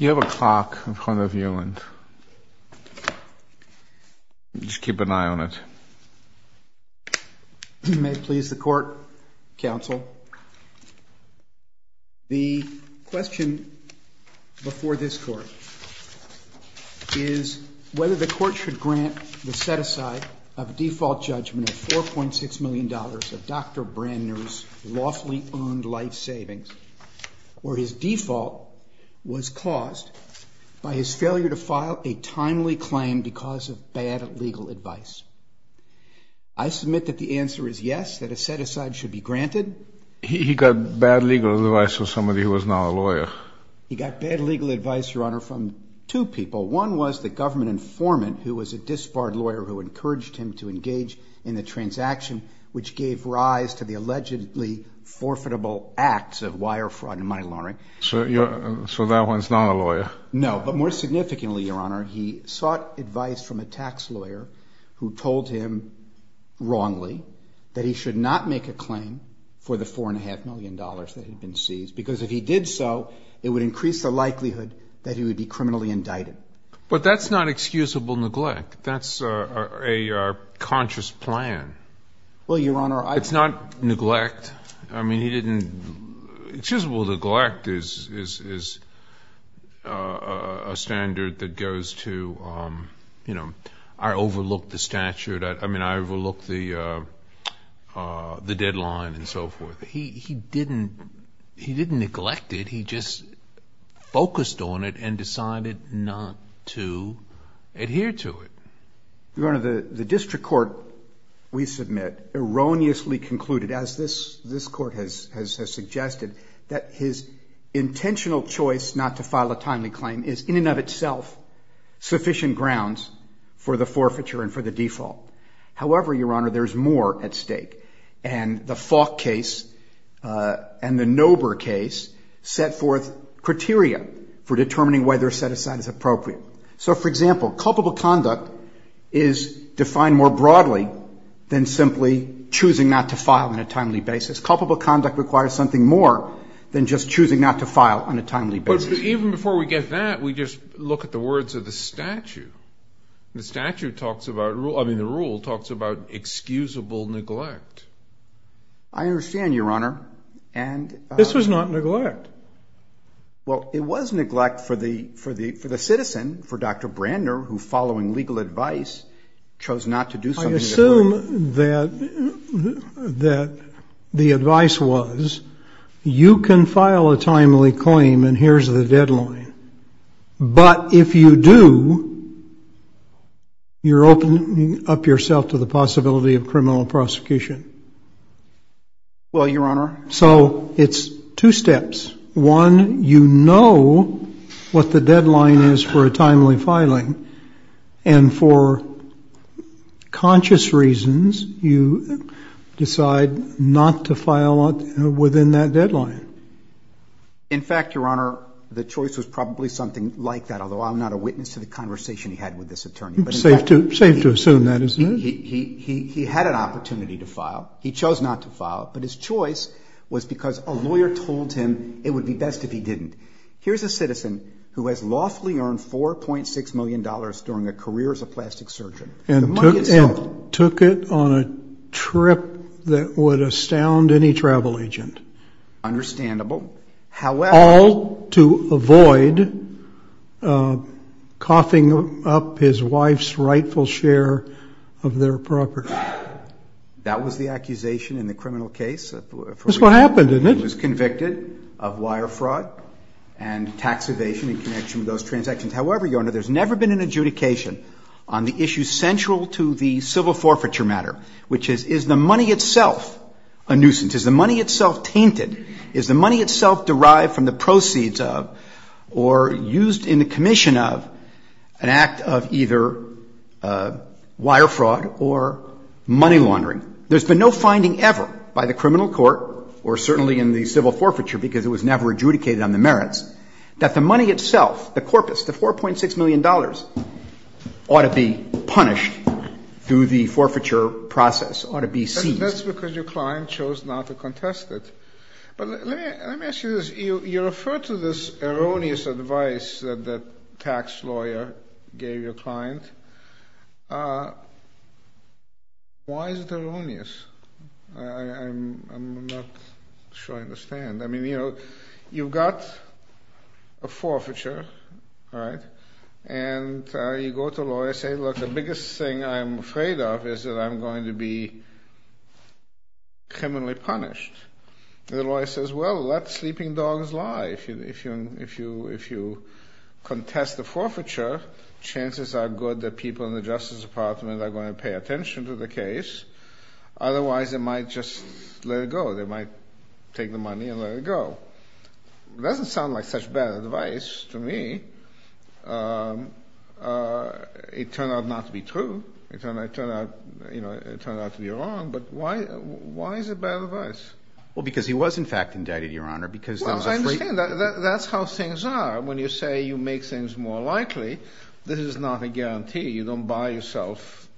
You have a clock in front of you. Just keep an eye on it. You may please the court, counsel. The question before this court is whether the court should grant the set-aside of a default judgment of $4.6 million of Dr. Brandner's lawfully earned life savings, where his default was caused by his failure to file a timely claim because of bad legal advice. I submit that the answer is yes, that a set-aside should be granted. He got bad legal advice from somebody who was not a lawyer. He got bad legal advice, Your Honor, from two people. One was the government informant who was a disbarred lawyer who encouraged him to engage in the transaction, which gave rise to the allegedly forfeitable acts of wire fraud and money laundering. So that one's not a lawyer? No, but more significantly, Your Honor, he sought advice from a tax lawyer who told him wrongly that he should not make a claim for the $4.5 million that had been seized, because if he did so, it would increase the likelihood that he would be criminally indicted. But that's not excusable neglect. That's a conscious plan. Well, Your Honor, I... It's not neglect. I mean, he didn't... Excusable neglect is a standard that goes to, you know, I overlooked the statute. I mean, I overlooked the deadline and so forth. He didn't neglect it. He just focused on it and decided not to adhere to it. Your Honor, the district court, we submit, erroneously concluded, as this court has suggested, that his intentional choice not to file a timely claim is in and of itself sufficient grounds for the forfeiture and for the default. However, Your Honor, there's more at stake. And the Falk case and the Nober case set forth criteria for determining whether a set-aside is appropriate. So, for example, culpable conduct is defined more broadly than simply choosing not to file on a timely basis. Culpable conduct requires something more than just choosing not to file on a timely basis. But even before we get that, we just look at the words of the statute. The rule talks about excusable neglect. I understand, Your Honor. This was not neglect. Well, it was neglect for the citizen, for Dr. Brandner, who, following legal advice, chose not to do something. I assume that the advice was, you can file a timely claim and here's the deadline. But if you do, you're opening up yourself to the possibility of criminal prosecution. Well, Your Honor. So it's two steps. One, you know what the deadline is for a timely filing. And for conscious reasons, you decide not to file within that deadline. In fact, Your Honor, the choice was probably something like that, although I'm not a witness to the conversation he had with this attorney. It's safe to assume that, isn't it? He had an opportunity to file. He chose not to file. But his choice was because a lawyer told him it would be best if he didn't. Here's a citizen who has lawfully earned $4.6 million during a career as a plastic surgeon. And took it on a trip that would astound any travel agent. Understandable. However. All to avoid coughing up his wife's rightful share of their property. That was the accusation in the criminal case. That's what happened, isn't it? He was convicted of wire fraud and tax evasion in connection with those transactions. However, Your Honor, there's never been an adjudication on the issue central to the civil forfeiture matter, which is, is the money itself a nuisance? Is the money itself tainted? Is the money itself derived from the proceeds of or used in the commission of an act of either wire fraud or money laundering? There's been no finding ever by the criminal court, or certainly in the civil forfeiture, because it was never adjudicated on the merits, that the money itself, the corpus, the $4.6 million, ought to be punished through the forfeiture process, ought to be seized. That's because your client chose not to contest it. But let me ask you this. You refer to this erroneous advice that the tax lawyer gave your client. Why is it erroneous? I'm not sure I understand. I mean, you know, you've got a forfeiture, right? And you go to a lawyer and say, look, the biggest thing I'm afraid of is that I'm going to be criminally punished. And the lawyer says, well, let sleeping dogs lie. If you contest the forfeiture, chances are good that people in the Justice Department are going to pay attention to the case. Otherwise, they might just let it go. They might take the money and let it go. It doesn't sound like such bad advice to me. It turned out not to be true. It turned out to be wrong. But why is it bad advice? Well, because he was, in fact, indicted, Your Honor. Well, I understand. That's how things are. When you say you make things more likely, this is not a guarantee. You don't buy yourself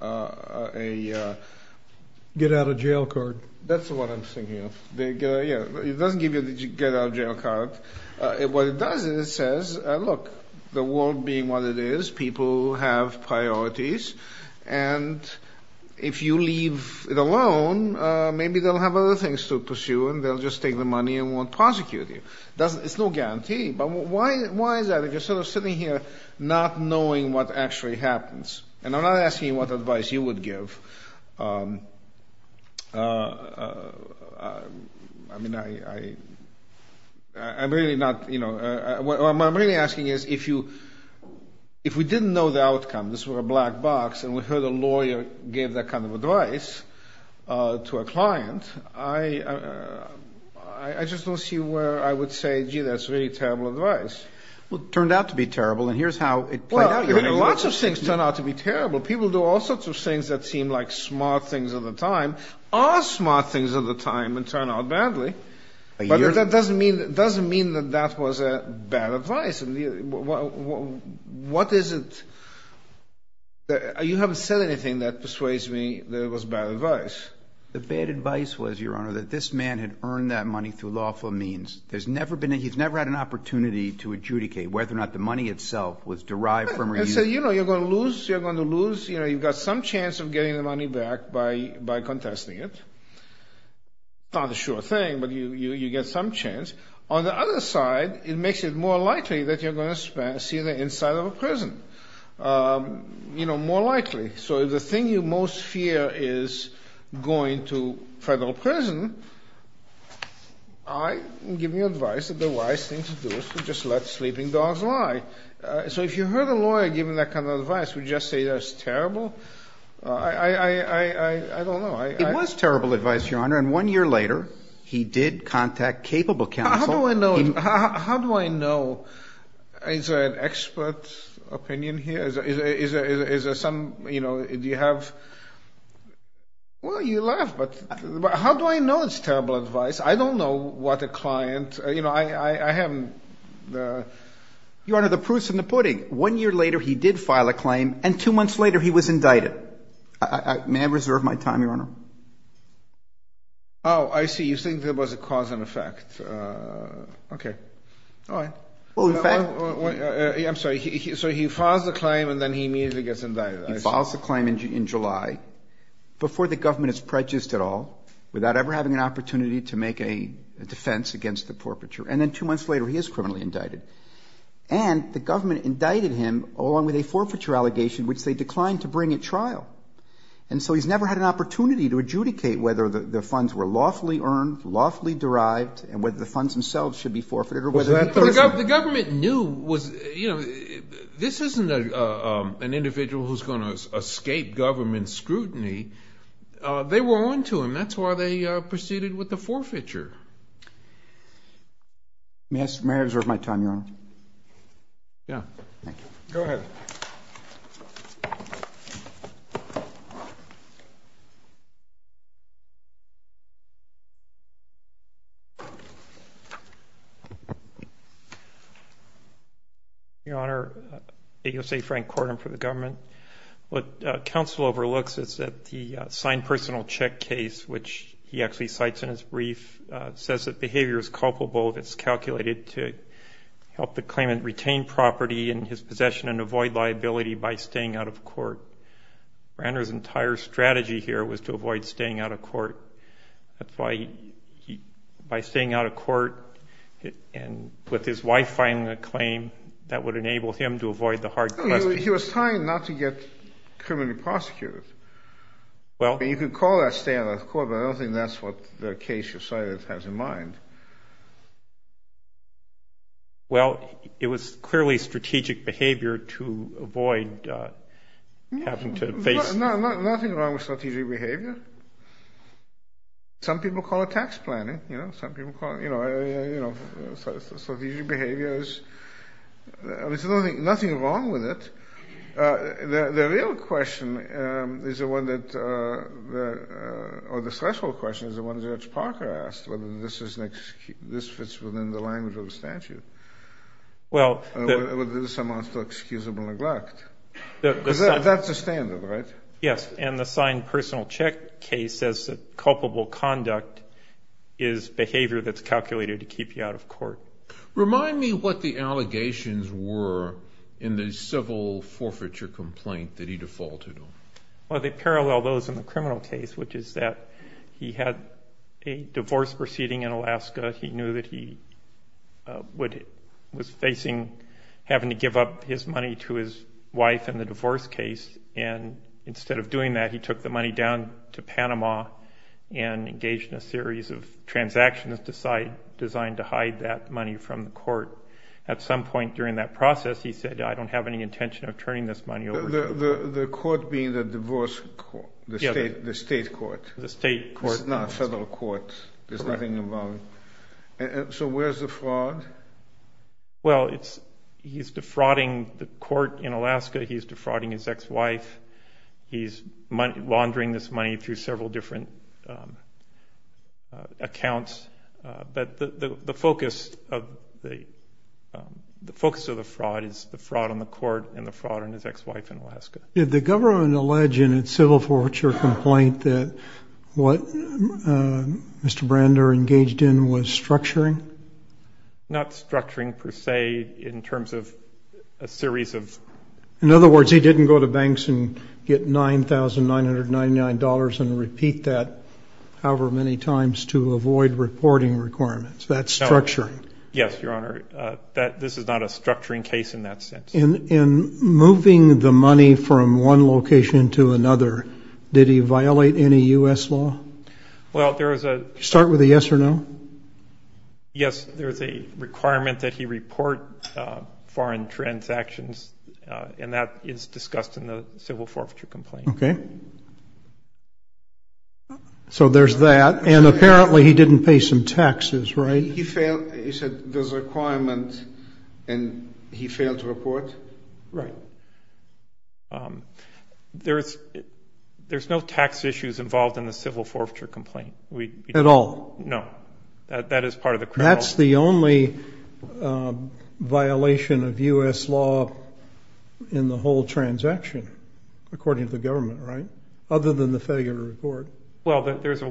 a — Get out of jail card. That's what I'm thinking of. It doesn't give you the get out of jail card. What it does is it says, look, the world being what it is, people have priorities. And if you leave it alone, maybe they'll have other things to pursue and they'll just take the money and won't prosecute you. It's no guarantee. But why is that? If you're sort of sitting here not knowing what actually happens, and I'm not asking you what advice you would give. I mean, I'm really not — What I'm really asking is if you — If we didn't know the outcome, this were a black box, and we heard a lawyer give that kind of advice to a client, I just don't see where I would say, gee, that's really terrible advice. Well, it turned out to be terrible, and here's how it played out, Your Honor. Well, lots of things turn out to be terrible. People do all sorts of things that seem like smart things at the time, are smart things at the time, and turn out badly. But that doesn't mean that that was bad advice. What is it — you haven't said anything that persuades me that it was bad advice. The bad advice was, Your Honor, that this man had earned that money through lawful means. There's never been — he's never had an opportunity to adjudicate whether or not the money itself was derived from — And so, you know, you're going to lose. You're going to lose. You know, you've got some chance of getting the money back by contesting it. Not a sure thing, but you get some chance. On the other side, it makes it more likely that you're going to see the inside of a prison. You know, more likely. So if the thing you most fear is going to federal prison, I give you advice that the wise thing to do is to just let sleeping dogs lie. So if you heard a lawyer giving that kind of advice, would you just say that's terrible? I don't know. It was terrible advice, Your Honor, and one year later, he did contact capable counsel. How do I know? Is there an expert opinion here? Is there some — you know, do you have — well, you laugh, but how do I know it's terrible advice? I don't know what a client — you know, I haven't — Your Honor, the proof's in the pudding. One year later, he did file a claim, and two months later, he was indicted. May I reserve my time, Your Honor? Oh, I see. You think there was a cause and effect. Okay. All right. Well, in fact — I'm sorry. So he files the claim, and then he immediately gets indicted, I assume. He files the claim in July, before the government is prejudiced at all, without ever having an opportunity to make a defense against the perpetrator. And then two months later, he is criminally indicted. And the government indicted him, along with a forfeiture allegation, which they declined to bring at trial. And so he's never had an opportunity to adjudicate whether the funds were lawfully earned, lawfully derived, and whether the funds themselves should be forfeited, or whether — The government knew — you know, this isn't an individual who's going to escape government scrutiny. They were on to him. That's why they proceeded with the forfeiture. May I reserve my time, Your Honor? Yeah. Thank you. Go ahead. Your Honor, AOC Frank Corden for the government. What counsel overlooks is that the signed personal check case, which he actually cites in his brief, says that behavior is culpable if it's calculated to help the claimant retain property in his possession and avoid liability by staying out of court. Brander's entire strategy here was to avoid staying out of court. By staying out of court and with his wife filing the claim, that would enable him to avoid the hard question. He was trying not to get criminally prosecuted. You could call that staying out of court, but I don't think that's what the case you cited has in mind. Well, it was clearly strategic behavior to avoid having to face — Nothing wrong with strategic behavior. Some people call it tax planning. Some people call it strategic behaviors. There's nothing wrong with it. The real question is the one that — or the threshold question is the one that Judge Parker asked, whether this fits within the language of the statute, whether this amounts to excusable neglect. Because that's the standard, right? Yes. And the signed personal check case says that culpable conduct is behavior that's calculated to keep you out of court. Remind me what the allegations were in the civil forfeiture complaint that he defaulted on. Well, they parallel those in the criminal case, which is that he had a divorce proceeding in Alaska. He knew that he was facing having to give up his money to his wife in the divorce case, and instead of doing that, he took the money down to Panama and engaged in a series of transactions designed to hide that money from the court. At some point during that process, he said, I don't have any intention of turning this money over to you. The court being the divorce court, the state court. The state court. It's not a federal court. There's nothing involved. So where's the fraud? Well, he's defrauding the court in Alaska. He's defrauding his ex-wife. He's laundering this money through several different accounts. But the focus of the fraud is the fraud on the court and the fraud on his ex-wife in Alaska. Did the government allege in its civil forfeiture complaint that what Mr. Brander engaged in was structuring? Not structuring per se in terms of a series of. In other words, he didn't go to banks and get $9,999 and repeat that however many times to avoid reporting requirements. That's structuring. Yes, Your Honor. This is not a structuring case in that sense. In moving the money from one location to another, did he violate any U.S. law? Well, there is a. Start with a yes or no. Yes, there is a requirement that he report foreign transactions, and that is discussed in the civil forfeiture complaint. Okay. So there's that. And apparently he didn't pay some taxes, right? He said there's a requirement and he failed to report. Right. There's no tax issues involved in the civil forfeiture complaint. At all? No. That is part of the criminal. That's the only violation of U.S. law in the whole transaction, according to the government, right? Other than the failure to report. Well, there's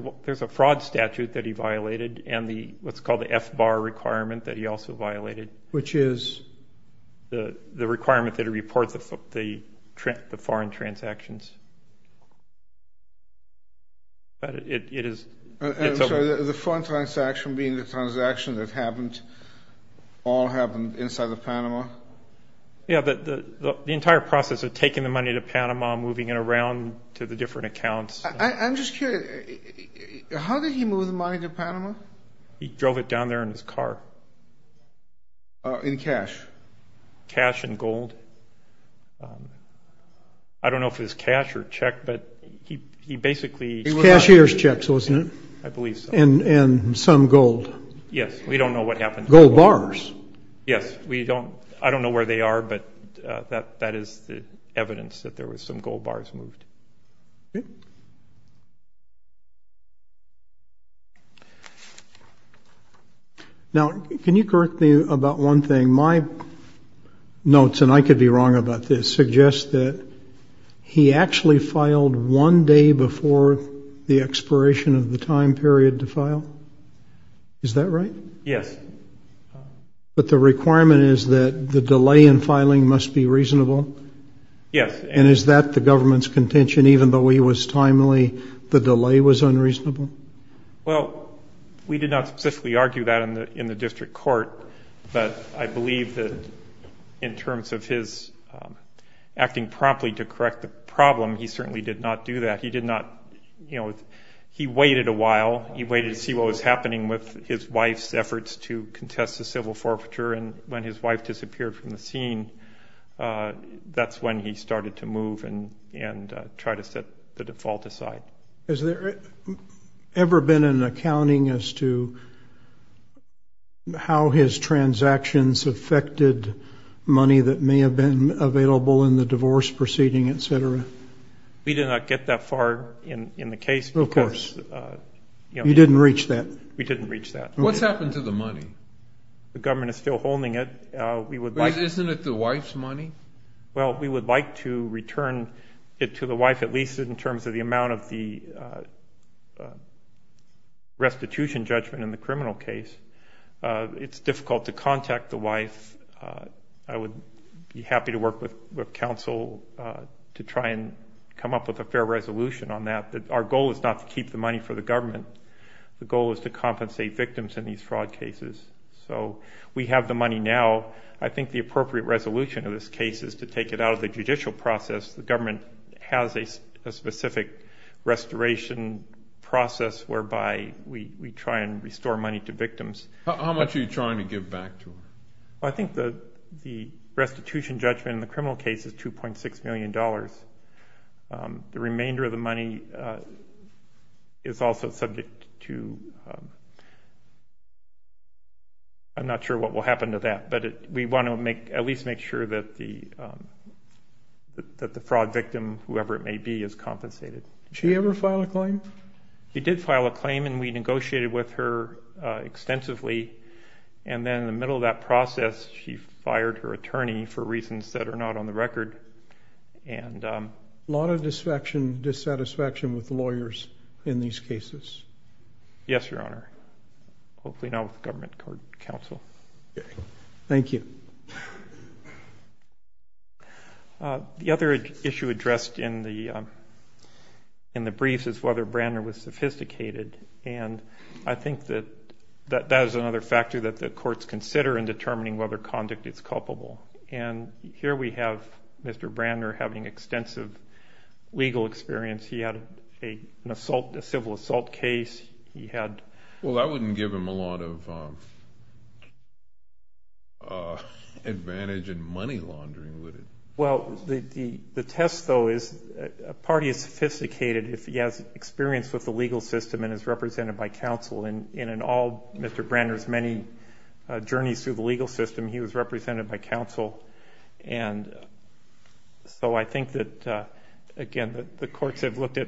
a fraud statute that he violated and what's called the F-bar requirement that he also violated. Which is? The requirement that he report the foreign transactions. But it is. I'm sorry, the foreign transaction being the transaction that happened, all happened inside of Panama? Yeah, the entire process of taking the money to Panama, moving it around to the different accounts. I'm just curious, how did he move the money to Panama? He drove it down there in his car. In cash? Cash and gold. I don't know if it was cash or check, but he basically. It was cashier's checks, wasn't it? I believe so. And some gold. Yes, we don't know what happened. Gold bars. Yes, we don't. I don't know where they are, but that is the evidence that there were some gold bars moved. Okay. Now, can you correct me about one thing? My notes, and I could be wrong about this, suggest that he actually filed one day before the expiration of the time period to file. Is that right? Yes. But the requirement is that the delay in filing must be reasonable? Yes. And is that the government's contention, even though he was timely, the delay was unreasonable? Well, we did not specifically argue that in the district court, but I believe that in terms of his acting promptly to correct the problem, he certainly did not do that. He did not, you know, he waited a while. He waited to see what was happening with his wife's efforts to contest the civil forfeiture, and when his wife disappeared from the scene, that's when he started to move and try to set the default aside. Has there ever been an accounting as to how his transactions affected money that may have been available in the divorce proceeding, et cetera? We did not get that far in the case. Of course. You didn't reach that? We didn't reach that. What's happened to the money? The government is still holding it. Isn't it the wife's money? Well, we would like to return it to the wife, at least in terms of the amount of the restitution judgment in the criminal case. It's difficult to contact the wife. I would be happy to work with counsel to try and come up with a fair resolution on that. Our goal is not to keep the money for the government. The goal is to compensate victims in these fraud cases. So we have the money now. I think the appropriate resolution of this case is to take it out of the judicial process. The government has a specific restoration process whereby we try and restore money to victims. How much are you trying to give back to them? I think the restitution judgment in the criminal case is $2.6 million. The remainder of the money is also subject to, I'm not sure what will happen to that, but we want to at least make sure that the fraud victim, whoever it may be, is compensated. Did she ever file a claim? She did file a claim, and we negotiated with her extensively. And then in the middle of that process, she fired her attorney for reasons that are not on the record. A lot of dissatisfaction with lawyers in these cases. Yes, Your Honor. Hopefully not with government counsel. Thank you. The other issue addressed in the briefs is whether Brandner was sophisticated, and I think that that is another factor that the courts consider in determining whether conduct is culpable. And here we have Mr. Brandner having extensive legal experience. He had a civil assault case. Well, that wouldn't give him a lot of advantage in money laundering, would it? Well, the test, though, is a party is sophisticated if he has experience with the legal system and is represented by counsel. And in all Mr. Brandner's many journeys through the legal system, he was represented by counsel. And so I think that, again, the courts have looked at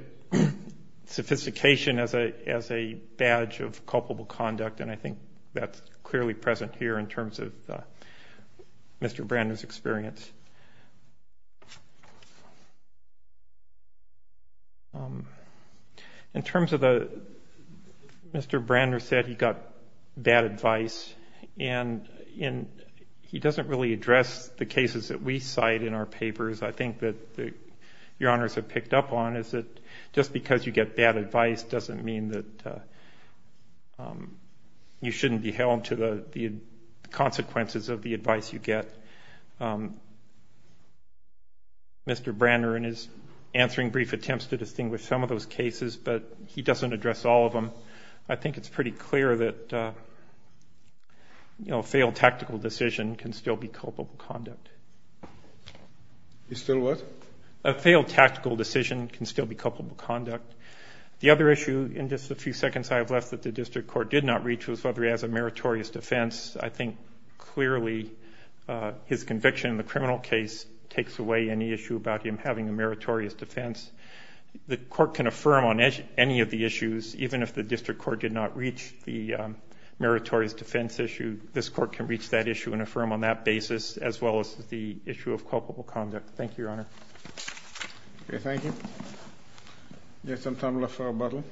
sophistication as a badge of culpable conduct, and I think that's clearly present here in terms of Mr. Brandner's experience. In terms of the Mr. Brandner said he got bad advice, and he doesn't really address the cases that we cite in our papers. I think that Your Honors have picked up on is that just because you get bad advice doesn't mean that you shouldn't be held to the consequences of the advice you get. Mr. Brandner in his answering brief attempts to distinguish some of those cases, but he doesn't address all of them. I think it's pretty clear that a failed tactical decision can still be culpable conduct. Still what? A failed tactical decision can still be culpable conduct. The other issue in just the few seconds I have left that the district court did not reach was whether he has a his conviction in the criminal case takes away any issue about him having a meritorious defense. The court can affirm on any of the issues, even if the district court did not reach the meritorious defense issue, this court can reach that issue and affirm on that basis as well as the issue of culpable conduct. Thank you, Your Honor. Okay, thank you. Yes, I'm Tom LaFleur-Butler.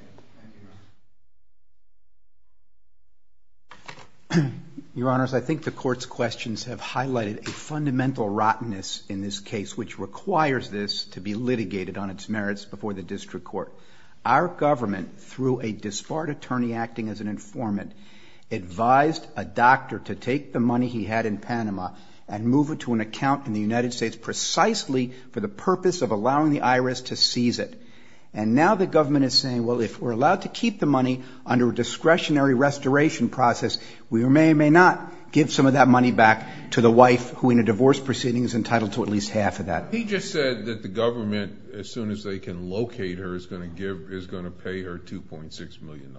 Thank you, Your Honor. Your Honors, I think the court's questions have highlighted a fundamental rottenness in this case, which requires this to be litigated on its merits before the district court. Our government, through a disbarred attorney acting as an informant, advised a doctor to take the money he had in Panama and move it to an account in the United States precisely for the purpose of allowing the IRS to seize it. And now the government is saying, well, if we're allowed to keep the money under a discretionary restoration process, we may or may not give some of that money back to the wife who, in a divorce proceeding, is entitled to at least half of that. He just said that the government, as soon as they can locate her, is going to pay her $2.6 million.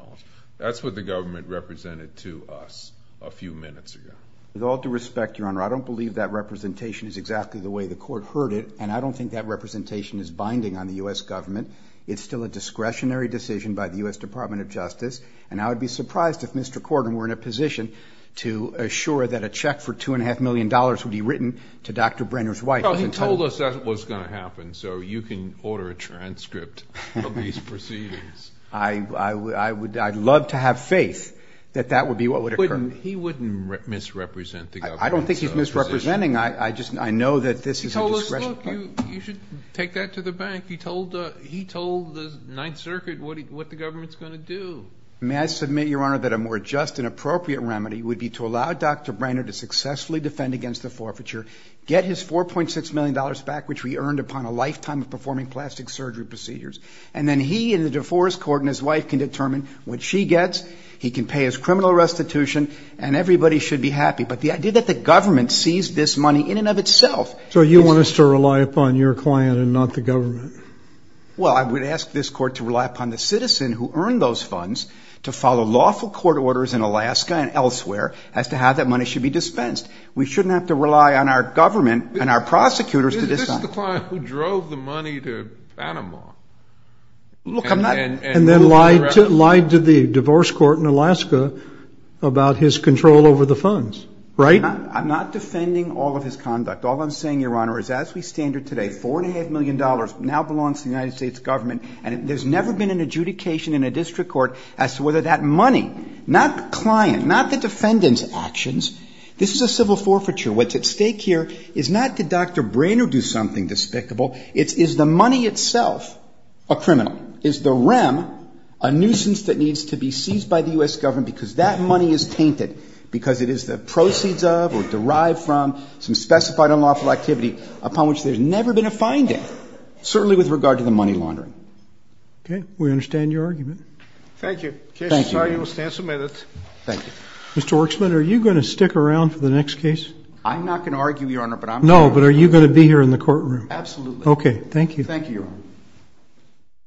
That's what the government represented to us a few minutes ago. With all due respect, Your Honor, I don't believe that representation is exactly the way the court heard it, and I don't think that representation is binding on the U.S. government. It's still a discretionary decision by the U.S. Department of Justice, and I would be surprised if Mr. Corden were in a position to assure that a check for $2.5 million would be written to Dr. Brenner's wife. Well, he told us that was going to happen, so you can order a transcript of these proceedings. I'd love to have faith that that would be what would occur. He wouldn't misrepresent the government's position. I don't think he's misrepresenting. I just know that this is a discretionary decision. He told us, look, you should take that to the bank. He told the Ninth Circuit what the government's going to do. May I submit, Your Honor, that a more just and appropriate remedy would be to allow Dr. Brenner to successfully defend against the forfeiture, get his $4.6 million back, which we earned upon a lifetime of performing plastic surgery procedures, and then he and the divorce court and his wife can determine what she gets. He can pay his criminal restitution, and everybody should be happy. But the idea that the government seized this money in and of itself. So you want us to rely upon your client and not the government? Well, I would ask this court to rely upon the citizen who earned those funds to follow lawful court orders in Alaska and elsewhere as to how that money should be dispensed. We shouldn't have to rely on our government and our prosecutors to decide. Isn't this the client who drove the money to Panama? And then lied to the divorce court in Alaska about his control over the funds, right? I'm not defending all of his conduct. All I'm saying, Your Honor, is as we stand here today, $4.5 million now belongs to the United States government, and there's never been an adjudication in a district court as to whether that money, not the client, not the defendant's actions, this is a civil forfeiture. What's at stake here is not did Dr. Brenner do something despicable. It's is the money itself a criminal? Is the REM a nuisance that needs to be seized by the U.S. government because that money is tainted, because it is the proceeds of or derived from some specified unlawful activity upon which there's never been a finding, certainly with regard to the money laundering? Okay. We understand your argument. Thank you. Thank you, Your Honor. Mr. Werksman, are you going to stick around for the next case? I'm not going to argue, Your Honor, but I'm going to argue. No, but are you going to be here in the courtroom? Absolutely. Okay. Thank you. Thank you, Your Honor.